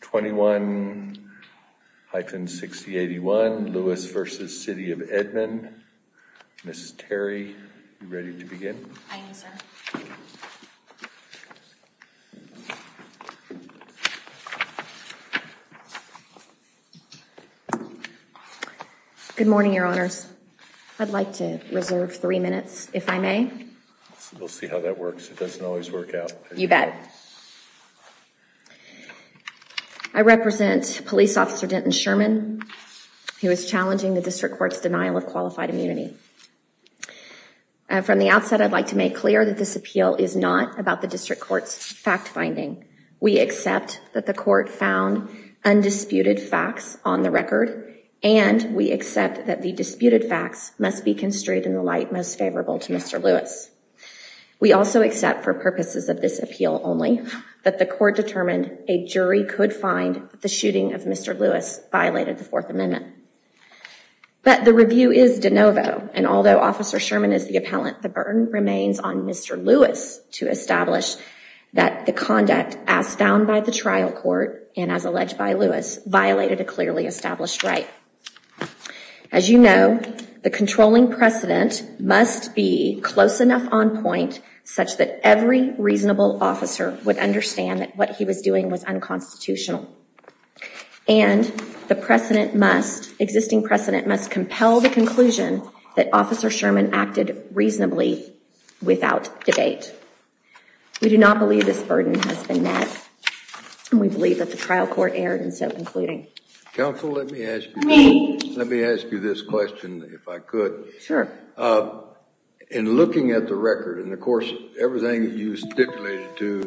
21-6081 Lewis v. City of Edmond. Ms. Terry, are you ready to begin? Good morning, Your Honors. I'd like to reserve three minutes, if I may. We'll see I represent Police Officer Denton Sherman, who is challenging the District Court's denial of qualified immunity. From the outset, I'd like to make clear that this appeal is not about the District Court's fact-finding. We accept that the Court found undisputed facts on the record, and we accept that the disputed facts must be construed in the light most favorable to Mr. Lewis. We also accept, for purposes of this appeal only, that the Court determined a jury could find the shooting of Mr. Lewis violated the Fourth Amendment. But the review is de novo, and although Officer Sherman is the appellant, the burden remains on Mr. Lewis to establish that the conduct asked down by the trial court, and as alleged by Lewis, violated a clearly established right. As you know, the controlling precedent must be close would understand that what he was doing was unconstitutional, and the precedent must, existing precedent, must compel the conclusion that Officer Sherman acted reasonably without debate. We do not believe this burden has been met, and we believe that the trial court erred in so concluding. Counsel, let me ask you this question, if I could. Sure. In looking at the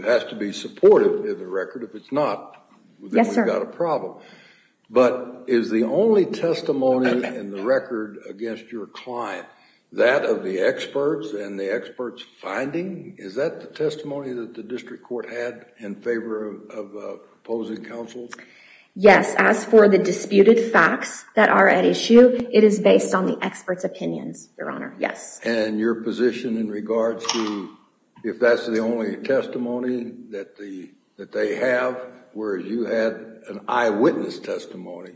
has to be supportive in the record, if it's not, then we've got a problem. But is the only testimony in the record against your client, that of the experts and the experts finding, is that the testimony that the District Court had in favor of opposing counsel? Yes, as for the disputed facts that are at issue, it is based on the experts' opinions, Your Honor, yes. And your position in regards to, if that's the only testimony that they have, whereas you had an eyewitness testimony,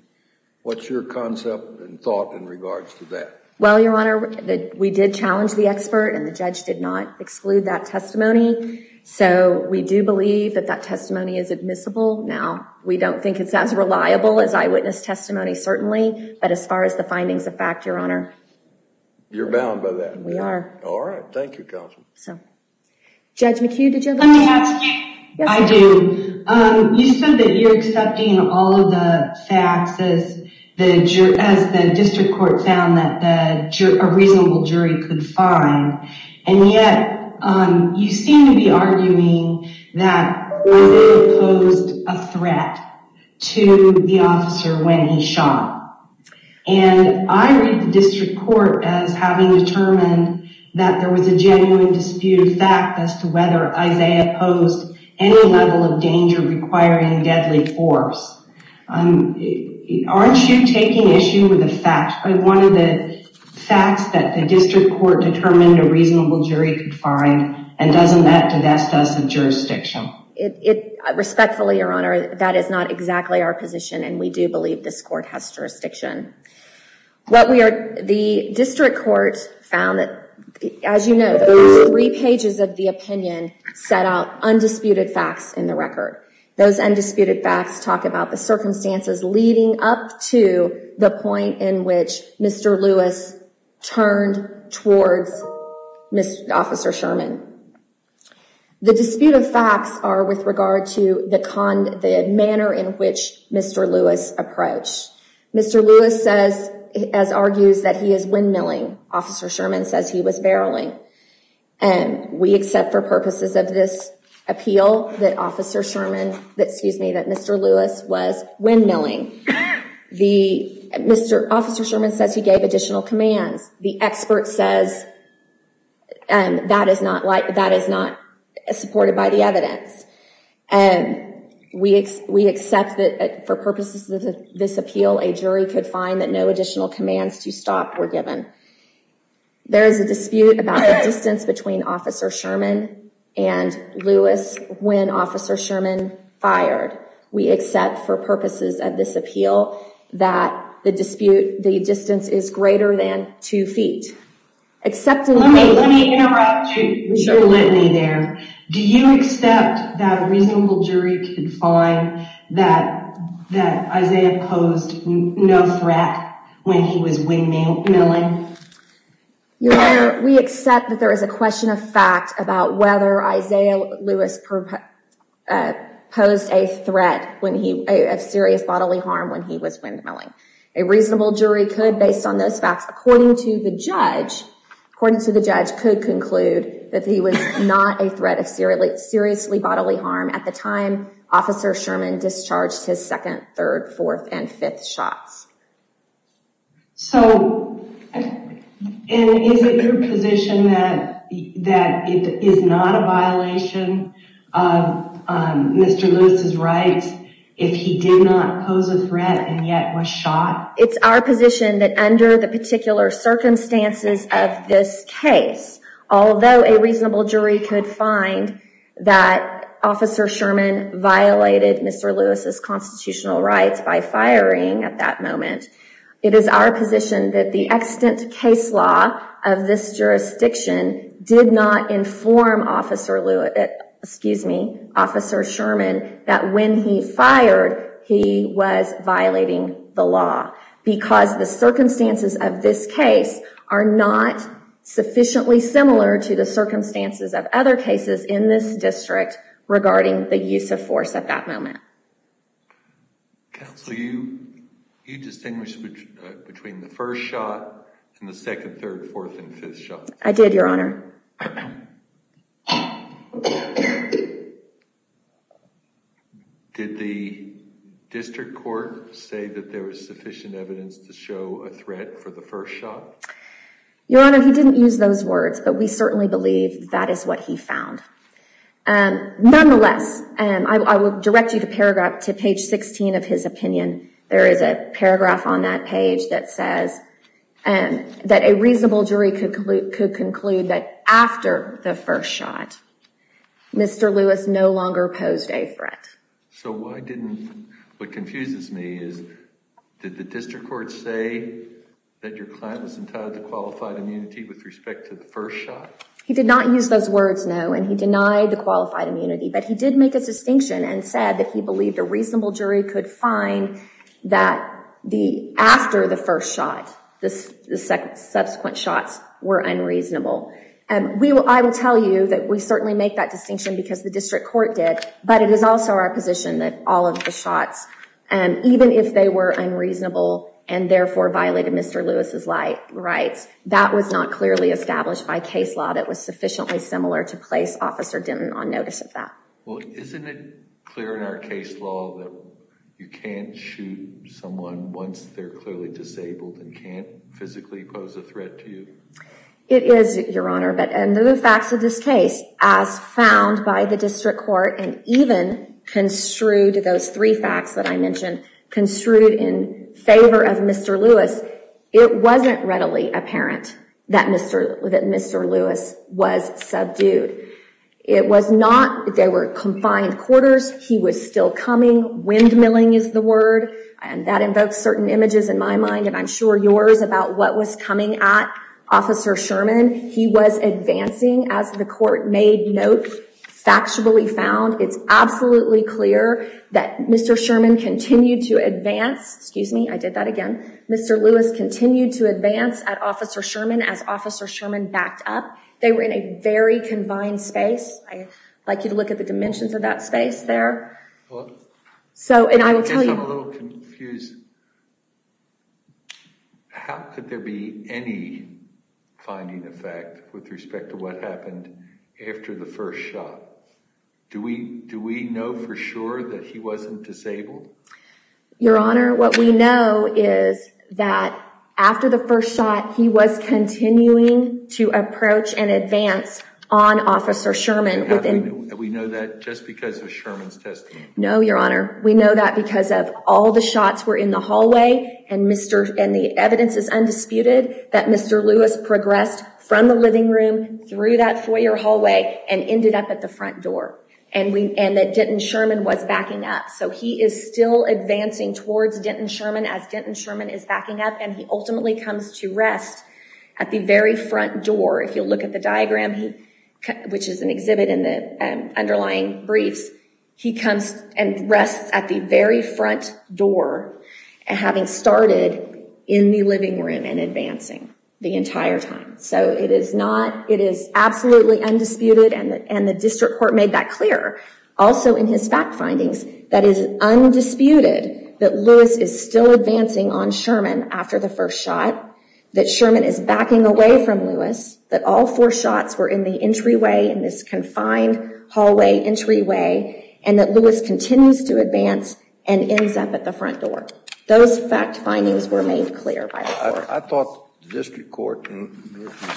what's your concept and thought in regards to that? Well, Your Honor, we did challenge the expert, and the judge did not exclude that testimony, so we do believe that that testimony is admissible. Now, we don't think it's as reliable as eyewitness testimony, certainly, but as far as the findings of fact, Your Honor. You're bound by that. We are. All right. Thank you, Counsel. Judge McHugh, did you have a question? Let me ask you. I do. You said that you're accepting all of the facts as the District Court found that a reasonable jury could And yet, you seem to be arguing that Isaiah posed a threat to the officer when he shot. And I read the District Court as having determined that there was a genuine disputed fact as to whether Isaiah posed any level of danger requiring deadly force. Aren't you taking issue with the facts that the District Court determined a reasonable jury could find, and doesn't that divest us of jurisdiction? Respectfully, Your Honor, that is not exactly our position, and we do believe this court has jurisdiction. The District Court found that, as you know, three pages of the opinion set out undisputed facts in the record. Those undisputed facts talk about the turned towards Mr. Officer Sherman. The disputed facts are with regard to the manner in which Mr. Lewis approached. Mr. Lewis says, as argues, that he is windmilling. Officer Sherman says he was barreling. We accept for purposes of this appeal that Mr. Lewis was windmilling. The Mr. Officer Sherman says he gave additional commands. The expert says that is not supported by the evidence. We accept that for purposes of this appeal, a jury could find that no additional commands to stop were given. There is a dispute about the distance between Officer Sherman and Lewis when Officer Sherman fired. We accept for purposes of this appeal that the dispute, the distance is greater than two feet. Let me interrupt you. Do you accept that a reasonable jury could find that Isaiah posed no threat when he was windmilling? Your Honor, we accept that there is a question of fact about whether Isaiah Lewis posed a threat of serious bodily harm when he was windmilling. A reasonable jury could, based on those facts, according to the judge, according to the judge, could conclude that he was not a threat of seriously bodily harm at the time Officer Sherman discharged his second, third, fourth, and fifth shots. So, is it your position that that it is not a violation of Mr. Lewis's rights if he did not pose a threat and yet was shot? It's our position that under the particular circumstances of this case, although a reasonable jury could find that Officer Sherman violated Mr. Lewis's rights at that moment, it is our position that the extant case law of this jurisdiction did not inform Officer Sherman that when he fired he was violating the law because the circumstances of this case are not sufficiently similar to the circumstances of other cases in this district regarding the use of force at that moment. Counsel, you distinguished between the first shot and the second, third, fourth, and fifth shot. I did, Your Honor. Did the district court say that there was sufficient evidence to show a threat for the first shot? Your Honor, he didn't use those words, but we certainly believe that is what he found. Nonetheless, I will direct you to paragraph to page 16 of his opinion. There is a paragraph on that page that says that a reasonable jury could conclude that after the first shot, Mr. Lewis no longer posed a threat. So, why didn't, what confuses me is, did the district court say that your client was entitled to qualified immunity with respect to the first shot? He did not use those words, no, and he denied the qualified immunity, but he did make a distinction and said that he believed a reasonable jury could find that after the first shot, the subsequent shots were unreasonable. I will tell you that we certainly make that distinction because the district court did, but it is also our position that all of the shots, even if they were unreasonable and therefore violated Mr. Lewis's rights, that was not clearly established by case law that was sufficiently similar to place Officer Denton on notice of that. Well, isn't it clear in our case law that you can't shoot someone once they're clearly disabled and can't physically pose a threat to you? It is, Your Honor, but under the facts of this case, as found by the district court and even construed, those three weren't readily apparent that Mr. Lewis was subdued. It was not, they were confined quarters, he was still coming, windmilling is the word, and that invokes certain images in my mind and I'm sure yours about what was coming at Officer Sherman. He was advancing as the court made notes, factually found. It's absolutely clear that Mr. Sherman continued to advance, excuse me, I did that again, Mr. Lewis continued to advance at Officer Sherman as Officer Sherman backed up. They were in a very combined space. I'd like you to look at the dimensions of that space there. So, and I will tell you, I'm a little confused, how could there be any finding effect with respect to what happened after the first shot? Do we know for sure that he wasn't disabled? Your Honor, what we know is that after the first shot, he was continuing to approach and advance on Officer Sherman. We know that just because of Sherman's testimony? No, Your Honor, we know that because of all the shots were in the hallway and the evidence is undisputed that Mr. Lewis progressed from the living room through that hallway and ended up at the front door and that Denton Sherman was backing up. So he is still advancing towards Denton Sherman as Denton Sherman is backing up and he ultimately comes to rest at the very front door. If you look at the diagram, which is an exhibit in the underlying briefs, he comes and rests at the very front door and having started in the living room and advancing the entire time. So it is not, it is absolutely undisputed and the district court made that clear. Also in his fact findings, that is undisputed that Lewis is still advancing on Sherman after the first shot, that Sherman is backing away from Lewis, that all four shots were in the entryway in this confined hallway entryway and that Lewis continues to advance and ends up at the front door. Those fact findings were made clear by the court. I thought the district court in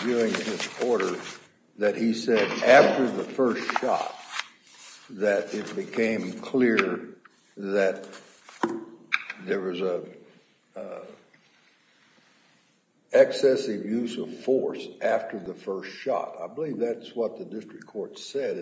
viewing his order that he said after the first shot that it became clear that there was a excessive use of force after the first shot. I believe that's what the district court said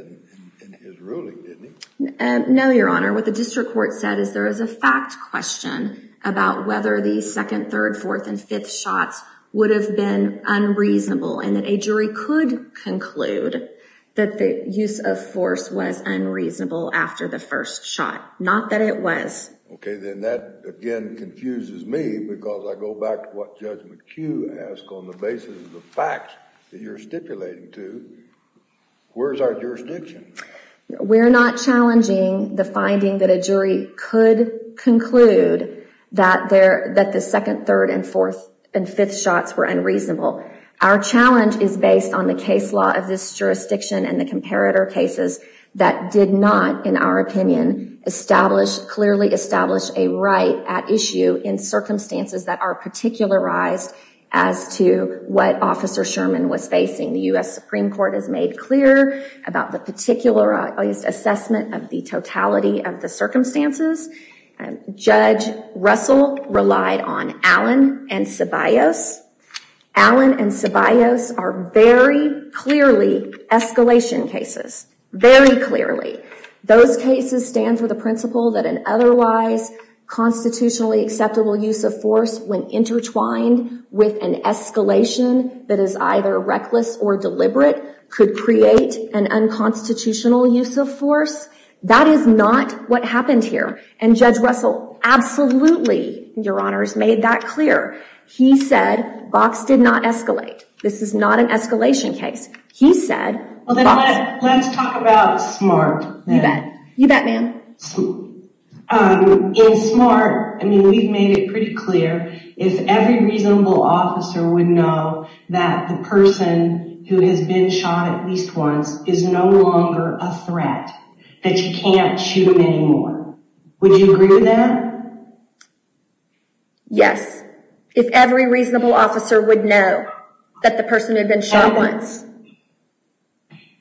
in his ruling, didn't he? No, your honor. What the district court said is there is a fact question about whether the second, third, fourth, and fifth shots would have been unreasonable and that a jury could conclude that the use of force was unreasonable after the first shot. Not that it was. Okay, then that again confuses me because I go back to what Judge McHugh asked on the basis of the facts that you're stipulating to. Where's our jurisdiction? We're not challenging the finding that a jury could conclude that the second, third, and fourth, and fifth shots were unreasonable. Our challenge is based on the case law of this jurisdiction and the comparator cases that did not, in our opinion, clearly establish a right at issue in circumstances that are particularized as to what Officer Sherman was facing. The U.S. Supreme Court has made clear about the particularized assessment of the totality of the circumstances. Judge Russell relied on Allen and Ceballos. Allen and Ceballos are very clearly escalation cases, very clearly. Those cases stand for the principle that an otherwise constitutionally acceptable use of force when intertwined with an escalation that is either reckless or deliberate could create an unconstitutional use of force. That is not what happened here, and Judge Russell absolutely, Your Honors, made that clear. He said Vox did not escalate. This is not an escalation case. Well, then let's talk about SMART. You bet, ma'am. In SMART, I mean, we've made it pretty clear if every reasonable officer would know that the person who has been shot at least once is no longer a threat, that you can't shoot him anymore. Would you agree with that? Yes, if every reasonable officer would know that the person who had been shot once.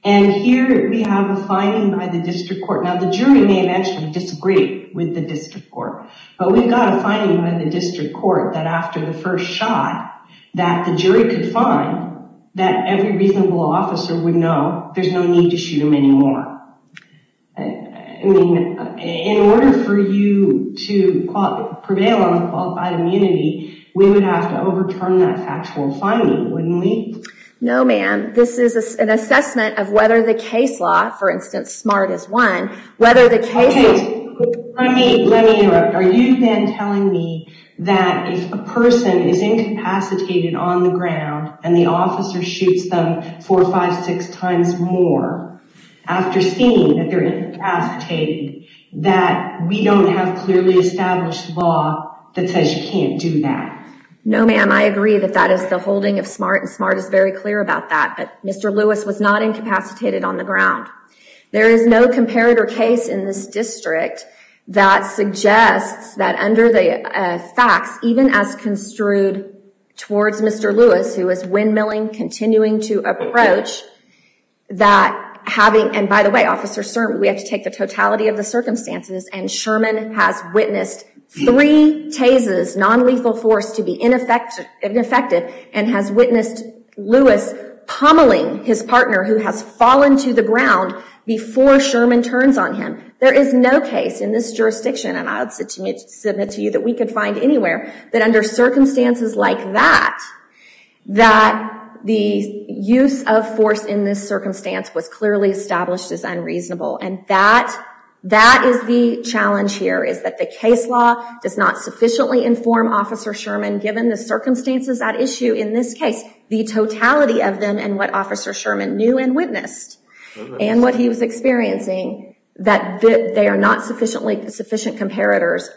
And here we have a finding by the District Court. Now, the jury may eventually disagree with the District Court, but we've got a finding by the District Court that after the first shot, that the jury could find that every reasonable officer would know there's no need to shoot him anymore. I mean, in order for you to prevail on the qualified immunity, we would have to overturn that factual finding, wouldn't we? No, ma'am. This is an assessment of whether the case law, for instance, SMART is one, whether the case... Okay, let me interrupt. Are you then telling me that if a person is incapacitated on the ground and the officer shoots them four, five, six times more, after seeing that they're incapacitated, that we don't have clearly established law that says you can't do that? No, ma'am. I agree that that is the holding of SMART, and SMART is very clear about that, but Mr. Lewis was not incapacitated on the ground. There is no comparator case in this district that suggests that under the facts, even as construed towards Mr. Lewis, who is windmilling, continuing to approach, that having... And by the way, Officer Sherman, we have to take the totality of the circumstances, and Sherman has witnessed three tases, non-lethal force to be ineffective, and has witnessed Lewis pummeling his partner who has fallen to the ground before Sherman turns on him. There is no case in this jurisdiction, and I would submit to you that we could find anywhere, that under circumstances like that, that the use of force in this circumstance was clearly established as unreasonable, and that is the challenge here, is that the case law does not sufficiently inform Officer Sherman, given the circumstances at issue in this case, the totality of them, and what Officer Sherman knew and witnessed, and what he was experiencing, that they are not sufficient comparators.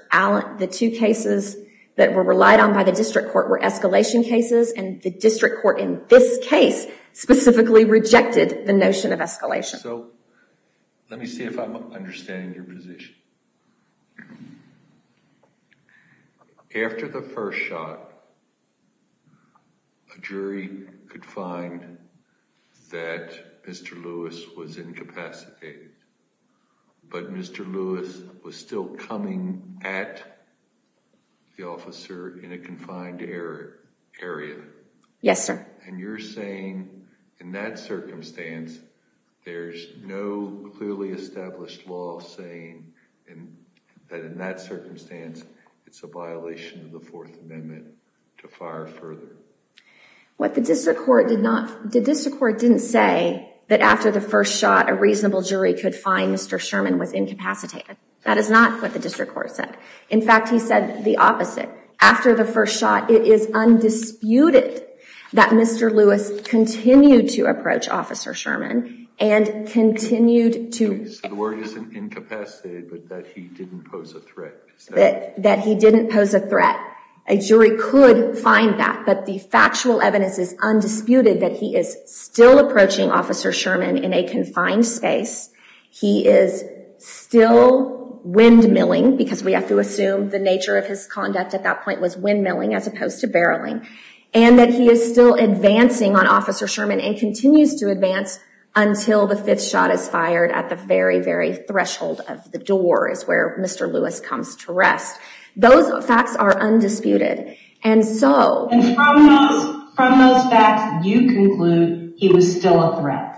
The two cases that were relied on by the district court were escalation cases, and the district court in this case specifically rejected the notion of escalation. So, let me see if I'm understanding your position. After the first shot, a jury could find that Mr. Lewis was incapacitated, but Mr. Lewis was still coming at the officer in a confined area. Yes, sir. And you're saying, in that circumstance, there's no clearly established law saying that in that circumstance, it's a violation of the Fourth Amendment to fire further? What the district court did not, the district court didn't say that after the first shot, a reasonable jury could find Mr. Sherman was incapacitated. That is not what the district court said. In fact, he said the opposite. After the first shot, it is undisputed that Mr. Lewis continued to approach Officer Sherman and continued to... The word is incapacitated, but that he didn't pose a threat. That he didn't pose a threat. A jury could find that, but the factual evidence is undisputed that he is still approaching Officer Sherman in a confined space. He is still windmilling, because we have to assume the nature of his conduct at that point was windmilling as opposed to barreling, and that he is still advancing on Officer Sherman and continues to advance until the fifth shot is fired at the very, very threshold of the door is where Mr. Lewis comes to rest. Those facts are undisputed. And so... And from those facts, you conclude he was still a threat.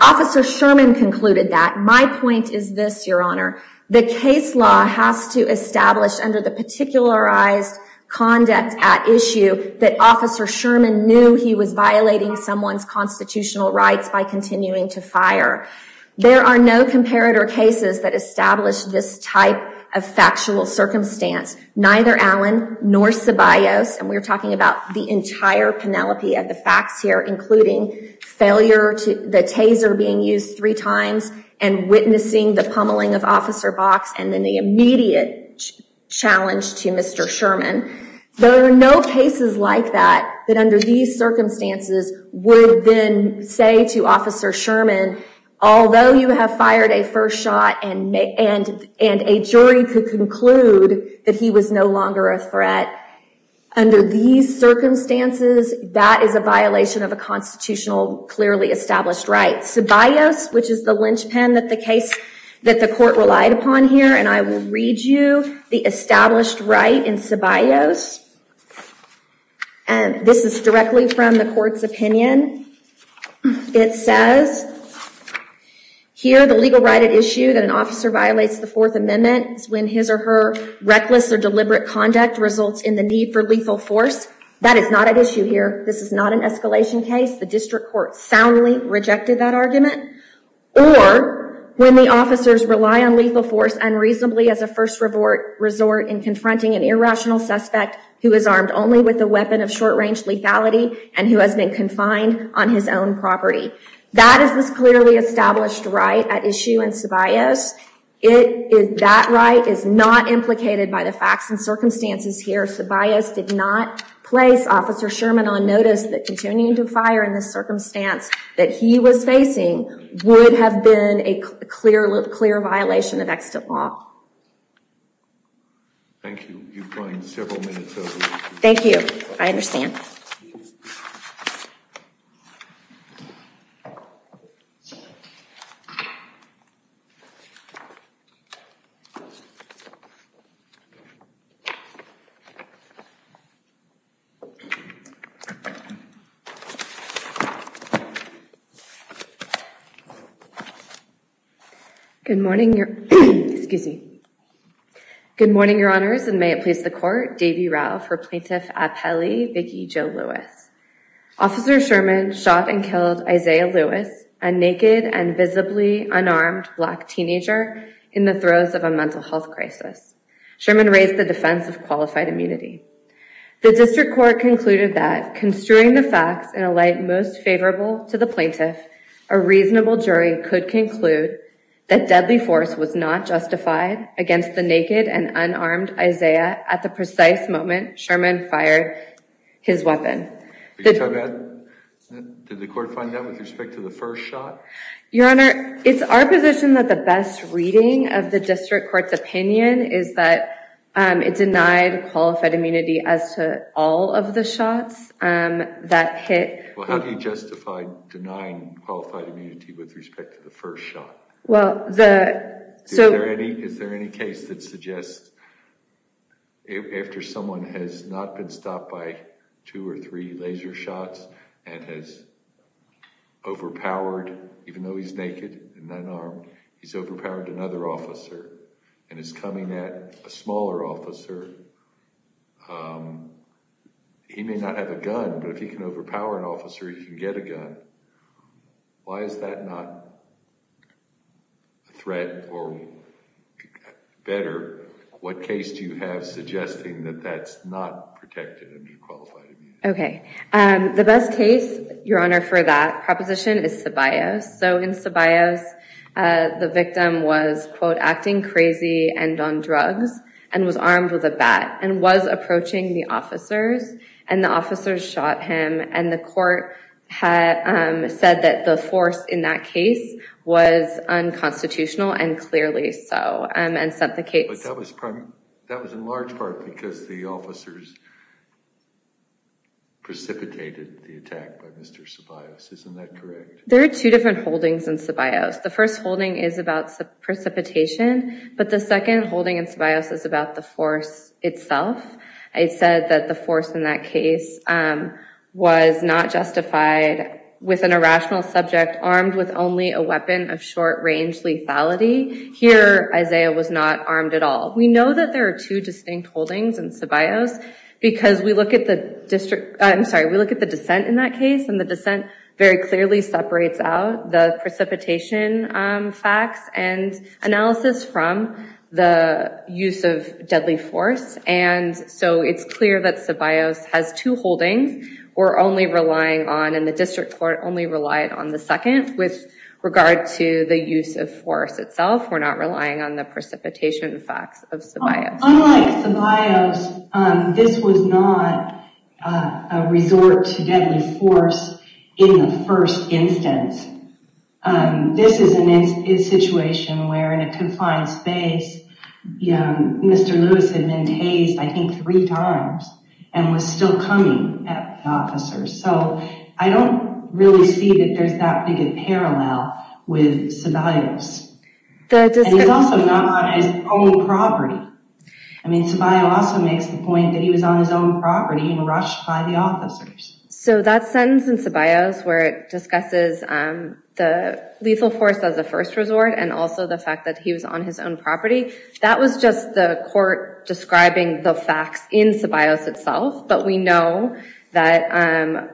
Officer Sherman concluded that. My point is this, Your Honor. The case law has to establish under the particularized conduct at issue that Officer Sherman knew he was violating someone's constitutional rights by continuing to fire. There are no comparator cases that establish this type of factual circumstance. Neither Allen nor Ceballos, and we're talking about the entire Penelope of the facts here, including failure to... The taser being used three times and witnessing the pummeling of Officer Box and then the immediate challenge to Mr. Sherman. There are no cases like that, that under these circumstances would then say to Officer Sherman, although you have fired a first shot and a jury could conclude that he was no longer a threat, under these circumstances, that is a violation of a constitutional, clearly established right. Ceballos, which is the linchpin that the case that the court relied upon here, and I will read you the established right in Ceballos. And this is directly from the court's opinion. It says here, the legal right at issue that an officer violates the Fourth Amendment when his or her need for lethal force. That is not at issue here. This is not an escalation case. The district court soundly rejected that argument. Or when the officers rely on lethal force unreasonably as a first resort in confronting an irrational suspect who is armed only with a weapon of short-range lethality and who has been confined on his own property. That is this clearly established right at issue in Ceballos. It is, that right is not implicated by the facts and circumstances here. Ceballos did not place Officer Sherman on notice that continuing to fire in the circumstance that he was facing would have been a clear, clear violation of extant law. Thank you. You've gone several minutes over. Thank you. I understand. Thank you. Good morning, your, excuse me. Good morning, your honors, and may it please the court, Davie Rau, for Plaintiff Apelli Biggie Jo Lewis. Officer Sherman shot and killed Isaiah Lewis, a naked and visibly unarmed black teenager, in the throes of a mental health crisis. Sherman raised the defense of qualified immunity. The district court concluded that construing the facts in a light most favorable to the plaintiff, a reasonable jury could conclude that deadly force was not justified against the naked and unarmed Isaiah at the precise moment Sherman fired his weapon. Did the court find that with respect to the first shot? Your honor, it's our position that the best reading of the district court's opinion is that it denied qualified immunity as to all of the shots that hit. Well, how do you justify denying qualified immunity with respect to the first shot? Well, the, so. Is there any, is there any case that suggests that after someone has not been stopped by two or three laser shots and has overpowered, even though he's naked and unarmed, he's overpowered another officer and is coming at a smaller officer. He may not have a gun, but if he can overpower an officer, he can get a gun. Why is that not a threat or better? What case do you have suggesting that that's not protected? Okay. The best case, your honor, for that proposition is Sabayos. So in Sabayos, the victim was quote, acting crazy and on drugs and was armed with a bat and was approaching the officers and the officers shot him. And the court had said that the force in that case was unconstitutional and clearly so, and sent the case. But that was in large part because the officers precipitated the attack by Mr. Sabayos. Isn't that correct? There are two different holdings in Sabayos. The first holding is about precipitation, but the second holding in Sabayos is about the force itself. It said that the force in that case was not justified with an irrational subject armed with only a weapon of short-range lethality. Here, Isaiah was not armed at all. We know that there are two distinct holdings in Sabayos because we look at the district, I'm sorry, we look at the dissent in that case and the dissent very clearly separates out the precipitation facts and analysis from the use of deadly force. And so it's clear that Sabayos has two holdings. We're only relying on, and the district court only relied on the second with regard to the use of force itself. We're not relying on the precipitation facts of Sabayos. Unlike Sabayos, this was not a resort to deadly force in the first instance. This is a situation where in a confined space, Mr. Lewis had been tased I think three times and was still coming at the officers. So I don't really see that there's that big a parallel with Sabayos. And he's also not on his own property. I mean, Sabayos also makes the point that he was on his own property and rushed by the officers. So that sentence in Sabayos where it discusses the lethal force as a first resort and also the fact that he was on his own property, that was just the court describing the facts in Sabayos itself, but we know that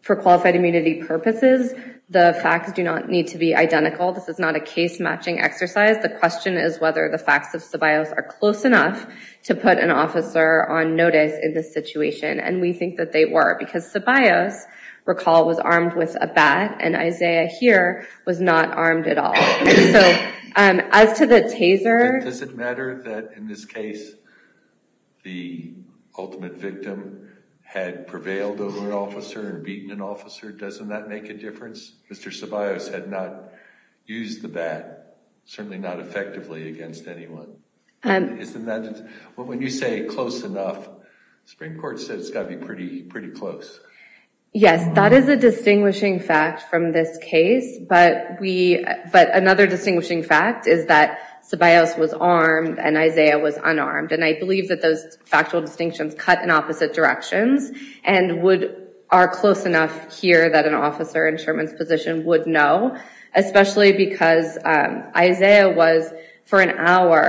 for qualified immunity purposes, the facts do not need to be identical. This is not a case matching exercise. The question is whether the facts of Sabayos are close enough to put an officer on notice in this situation. And we think that they were because Sabayos, recall, was armed with a bat and Isaiah here was not armed at all. So as to the taser- Does it matter that in this case, the ultimate victim had prevailed over an officer and beaten an officer? Doesn't that make a difference? Mr. Sabayos had not used the bat, certainly not effectively against anyone. Isn't that- when you say close enough, the Supreme Court said it's got to be pretty close. Yes, that is a distinguishing fact from this case, but another distinguishing fact is that Sabayos was armed and Isaiah was unarmed. And I believe that those that an officer in Sherman's position would know, especially because Isaiah was, for an hour,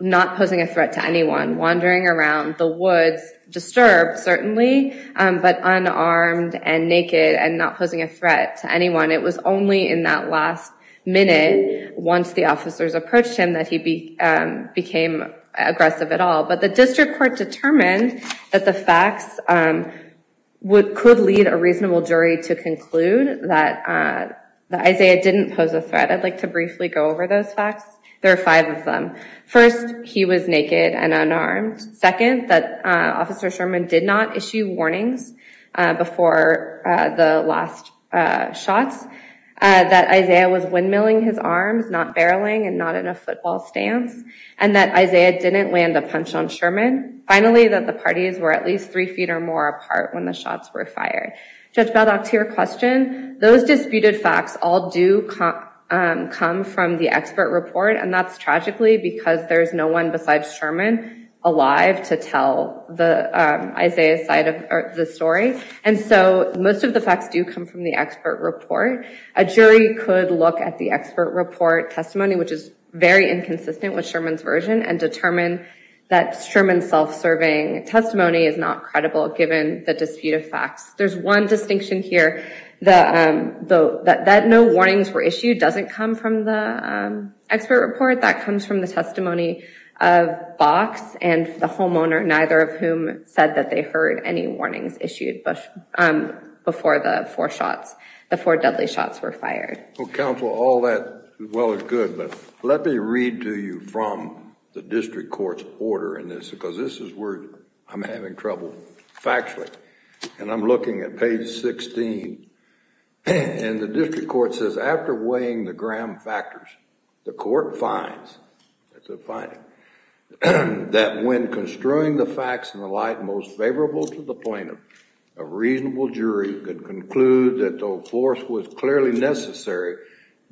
not posing a threat to anyone, wandering around the woods, disturbed, certainly, but unarmed and naked and not posing a threat to anyone. It was only in that last minute, once the officers approached him, that he became aggressive at all. But the district court determined that the facts would- could lead a reasonable jury to conclude that Isaiah didn't pose a threat. I'd like to briefly go over those facts. There are five of them. First, he was naked and unarmed. Second, that Officer Sherman did not issue warnings before the last shots, that Isaiah was windmilling his arms, not barreling and not in a football stance, and that Isaiah didn't land a punch on Sherman. Finally, that the parties were at least three feet or more apart when the shots were fired. Judge Baldock, to your question, those disputed facts all do come from the expert report, and that's tragically because there's no one besides Sherman alive to tell the Isaiah side of the story. And so most of the facts do come from the expert report. A jury could look at the expert report testimony, which is very inconsistent with Sherman's version, and determine that self-serving testimony is not credible given the dispute of facts. There's one distinction here, that no warnings were issued doesn't come from the expert report, that comes from the testimony of Box and the homeowner, neither of whom said that they heard any warnings issued before the four shots, the four deadly shots were fired. Well, counsel, all that well is good, but let me read to you from the district court's order in this, because this is where I'm having trouble factually, and I'm looking at page 16, and the district court says, after weighing the gram factors, the court finds that when construing the facts in the light most favorable to the plaintiff, a reasonable jury could conclude that though force was clearly necessary,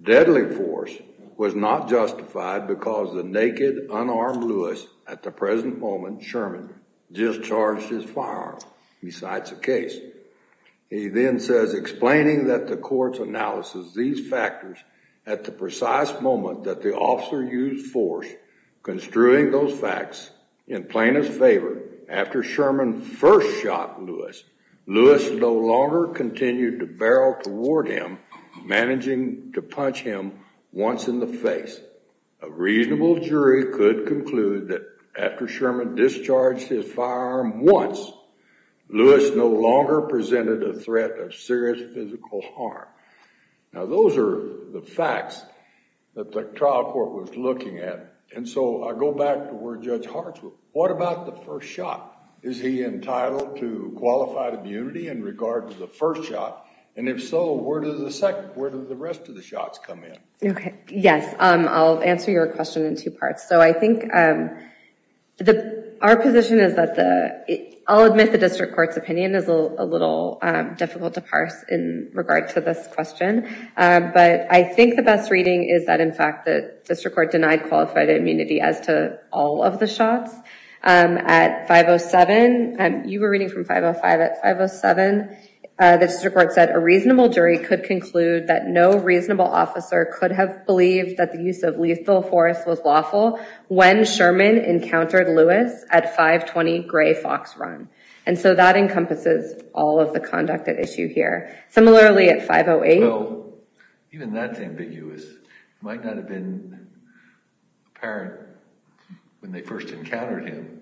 deadly force was not justified because the naked, unarmed Lewis, at the present moment, Sherman, discharged his firearm besides the case. He then says, explaining that the court's analysis these factors at the precise moment that the officer used force, construing those facts in plaintiff's favor, after Sherman first shot Lewis, Lewis no longer continued to barrel toward him, managing to punch him once in the face. A reasonable jury could conclude that after Sherman discharged his firearm once, Lewis no longer presented a threat of serious physical harm. Now, those are the facts that the trial court was looking at, and so I go back to where Judge Hartswood, what about the first shot? Is he entitled to qualified immunity in regard to the first shot, and if so, where does the rest of the shots come in? Okay, yes, I'll answer your question in two parts. So I think our position is that the, I'll admit the district court's opinion is a little difficult to parse in regard to this question, but I think the best reading is that, in fact, the district court denied qualified immunity as to all of the shots. At 507, you were reading from 505 at 507, the district court said a reasonable jury could conclude that no reasonable officer could have believed that the use of lethal force was lawful when Sherman encountered Lewis at 520 Gray Fox Run, and so that encompasses all of the conduct at issue here. Similarly, at 508. Well, even that's ambiguous. It might not have been apparent when they first encountered him,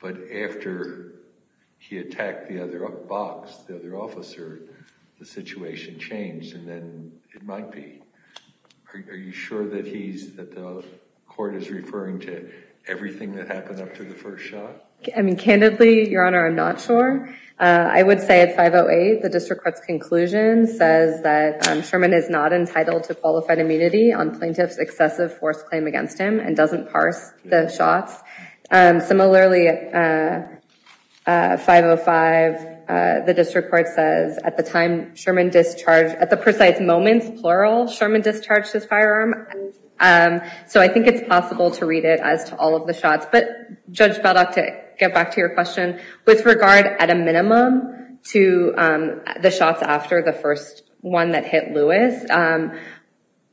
but after he attacked the other box, the other officer, the situation changed, and then it might be. Are you sure that he's, that the court is referring to everything that happened after the first shot? I mean, candidly, Your Honor, I'm not sure. I would say at 508, the district court's conclusion says that Sherman is not entitled to qualified immunity on plaintiff's excessive force claim against him and doesn't parse the shots. Similarly, at 505, the district court says at the time Sherman discharged, at the precise moment, plural, Sherman discharged his firearm, so I think it's possible to read it as to all of the shots, but Judge Beldock, to get back to your question, with regard at a minimum to the shots after the first one that hit Lewis,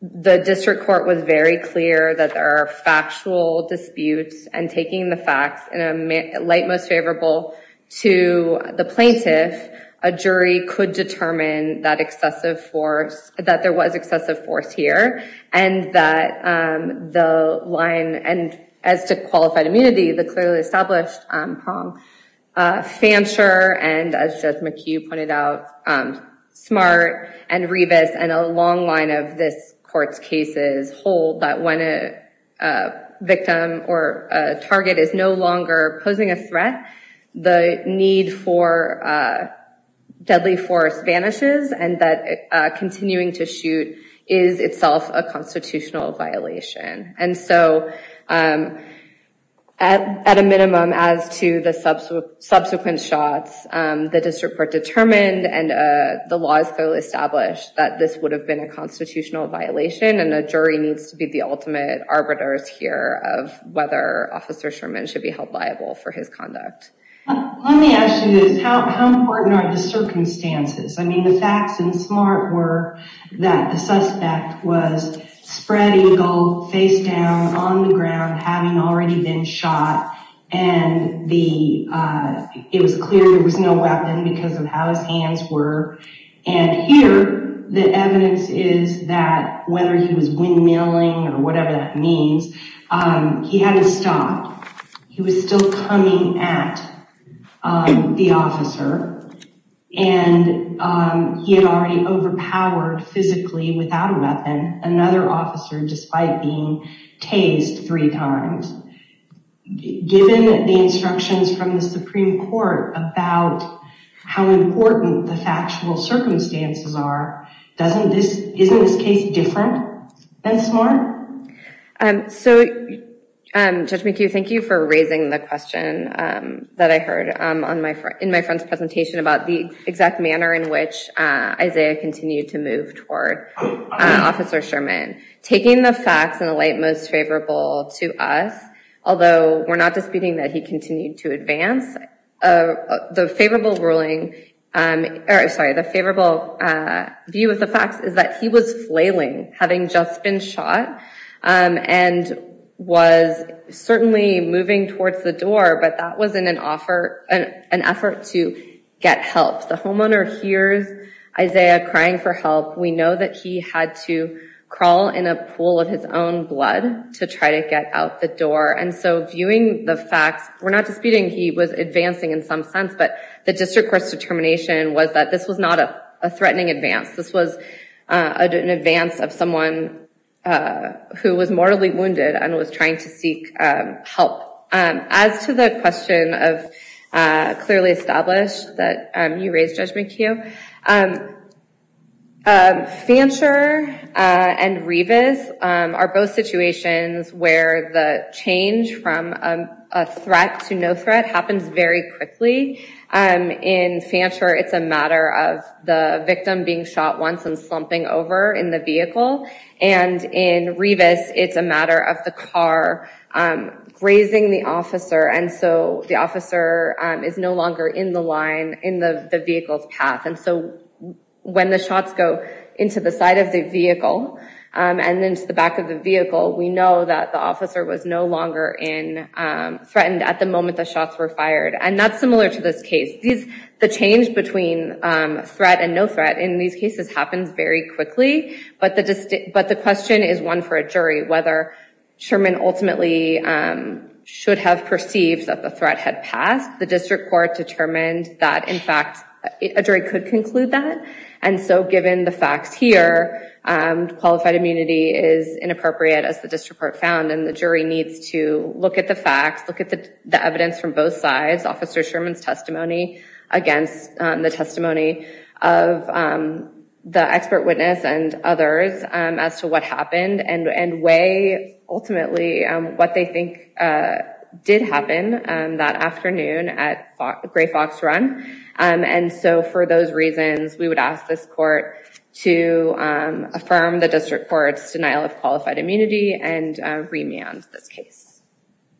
the district court was very clear that there are factual disputes, and taking the facts in a light most favorable to the plaintiff, a jury could determine that excessive force, that there was excessive force here, and that the line, and as to qualified immunity, the clearly established prom fancier, and as Judge McHugh pointed out, smart and rebus, and a long line of this court's cases hold that when a victim or a target is no longer posing a threat, the need for deadly force vanishes, and that continuing to shoot is itself a constitutional violation. And so at a minimum, as to the subsequent shots, the district court determined, and the law is thoroughly established, that this would have been a constitutional violation, and a jury needs to be the ultimate arbiters here of whether Officer Sherman should be held liable for his conduct. Let me ask you this, how important are the circumstances? I mean, the facts in smart were that the suspect was spread eagle, face down, on the ground, having already been shot, and it was clear there was no weapon because of how his hands were, and here the evidence is that whether he was windmilling or whatever that means, he had to stop. He was still coming at the officer, and he had already overpowered physically without a weapon another officer, despite being tased three times. Given the instructions from the Supreme Court about how important the factual circumstances are, doesn't this, isn't this case different than smart? So Judge McHugh, thank you for raising the question that I heard in my friend's presentation about the exact manner in which Isaiah continued to move toward Officer Sherman. Taking the facts in the light most favorable to us, although we're not disputing that he continued to advance, the favorable ruling, sorry, the favorable view of the facts is that he was shot and was certainly moving towards the door, but that was in an offer, an effort to get help. The homeowner hears Isaiah crying for help. We know that he had to crawl in a pool of his own blood to try to get out the door, and so viewing the facts, we're not disputing he was advancing in some sense, but the district court's determination was that this was not a threatening advance. This was an advance of someone who was mortally wounded and was trying to seek help. As to the question of clearly established that you raised, Judge McHugh, Fancher and Revis are both situations where the change from a threat to no threat happens very quickly. In Fancher, it's a matter of the victim being shot once and slumping over in the vehicle, and in Revis, it's a matter of the car grazing the officer, and so the officer is no longer in the line, in the vehicle's path, and so when the shots go into the side of the vehicle and into the back of the vehicle, we know that the officer was no longer threatened at the moment the shots were fired. That's similar to this case. The change between threat and no threat in these cases happens very quickly, but the question is one for a jury, whether Sherman ultimately should have perceived that the threat had passed. The district court determined that, in fact, a jury could conclude that, and so given the facts here, qualified immunity is inappropriate, as the district court found, and the testimony against the testimony of the expert witness and others as to what happened and weigh ultimately what they think did happen that afternoon at Gray Fox Run, and so for those reasons, we would ask this court to affirm the district court's denial of qualified immunity and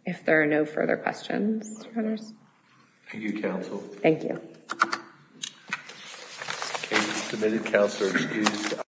if there are no further questions. Thank you, counsel. Thank you.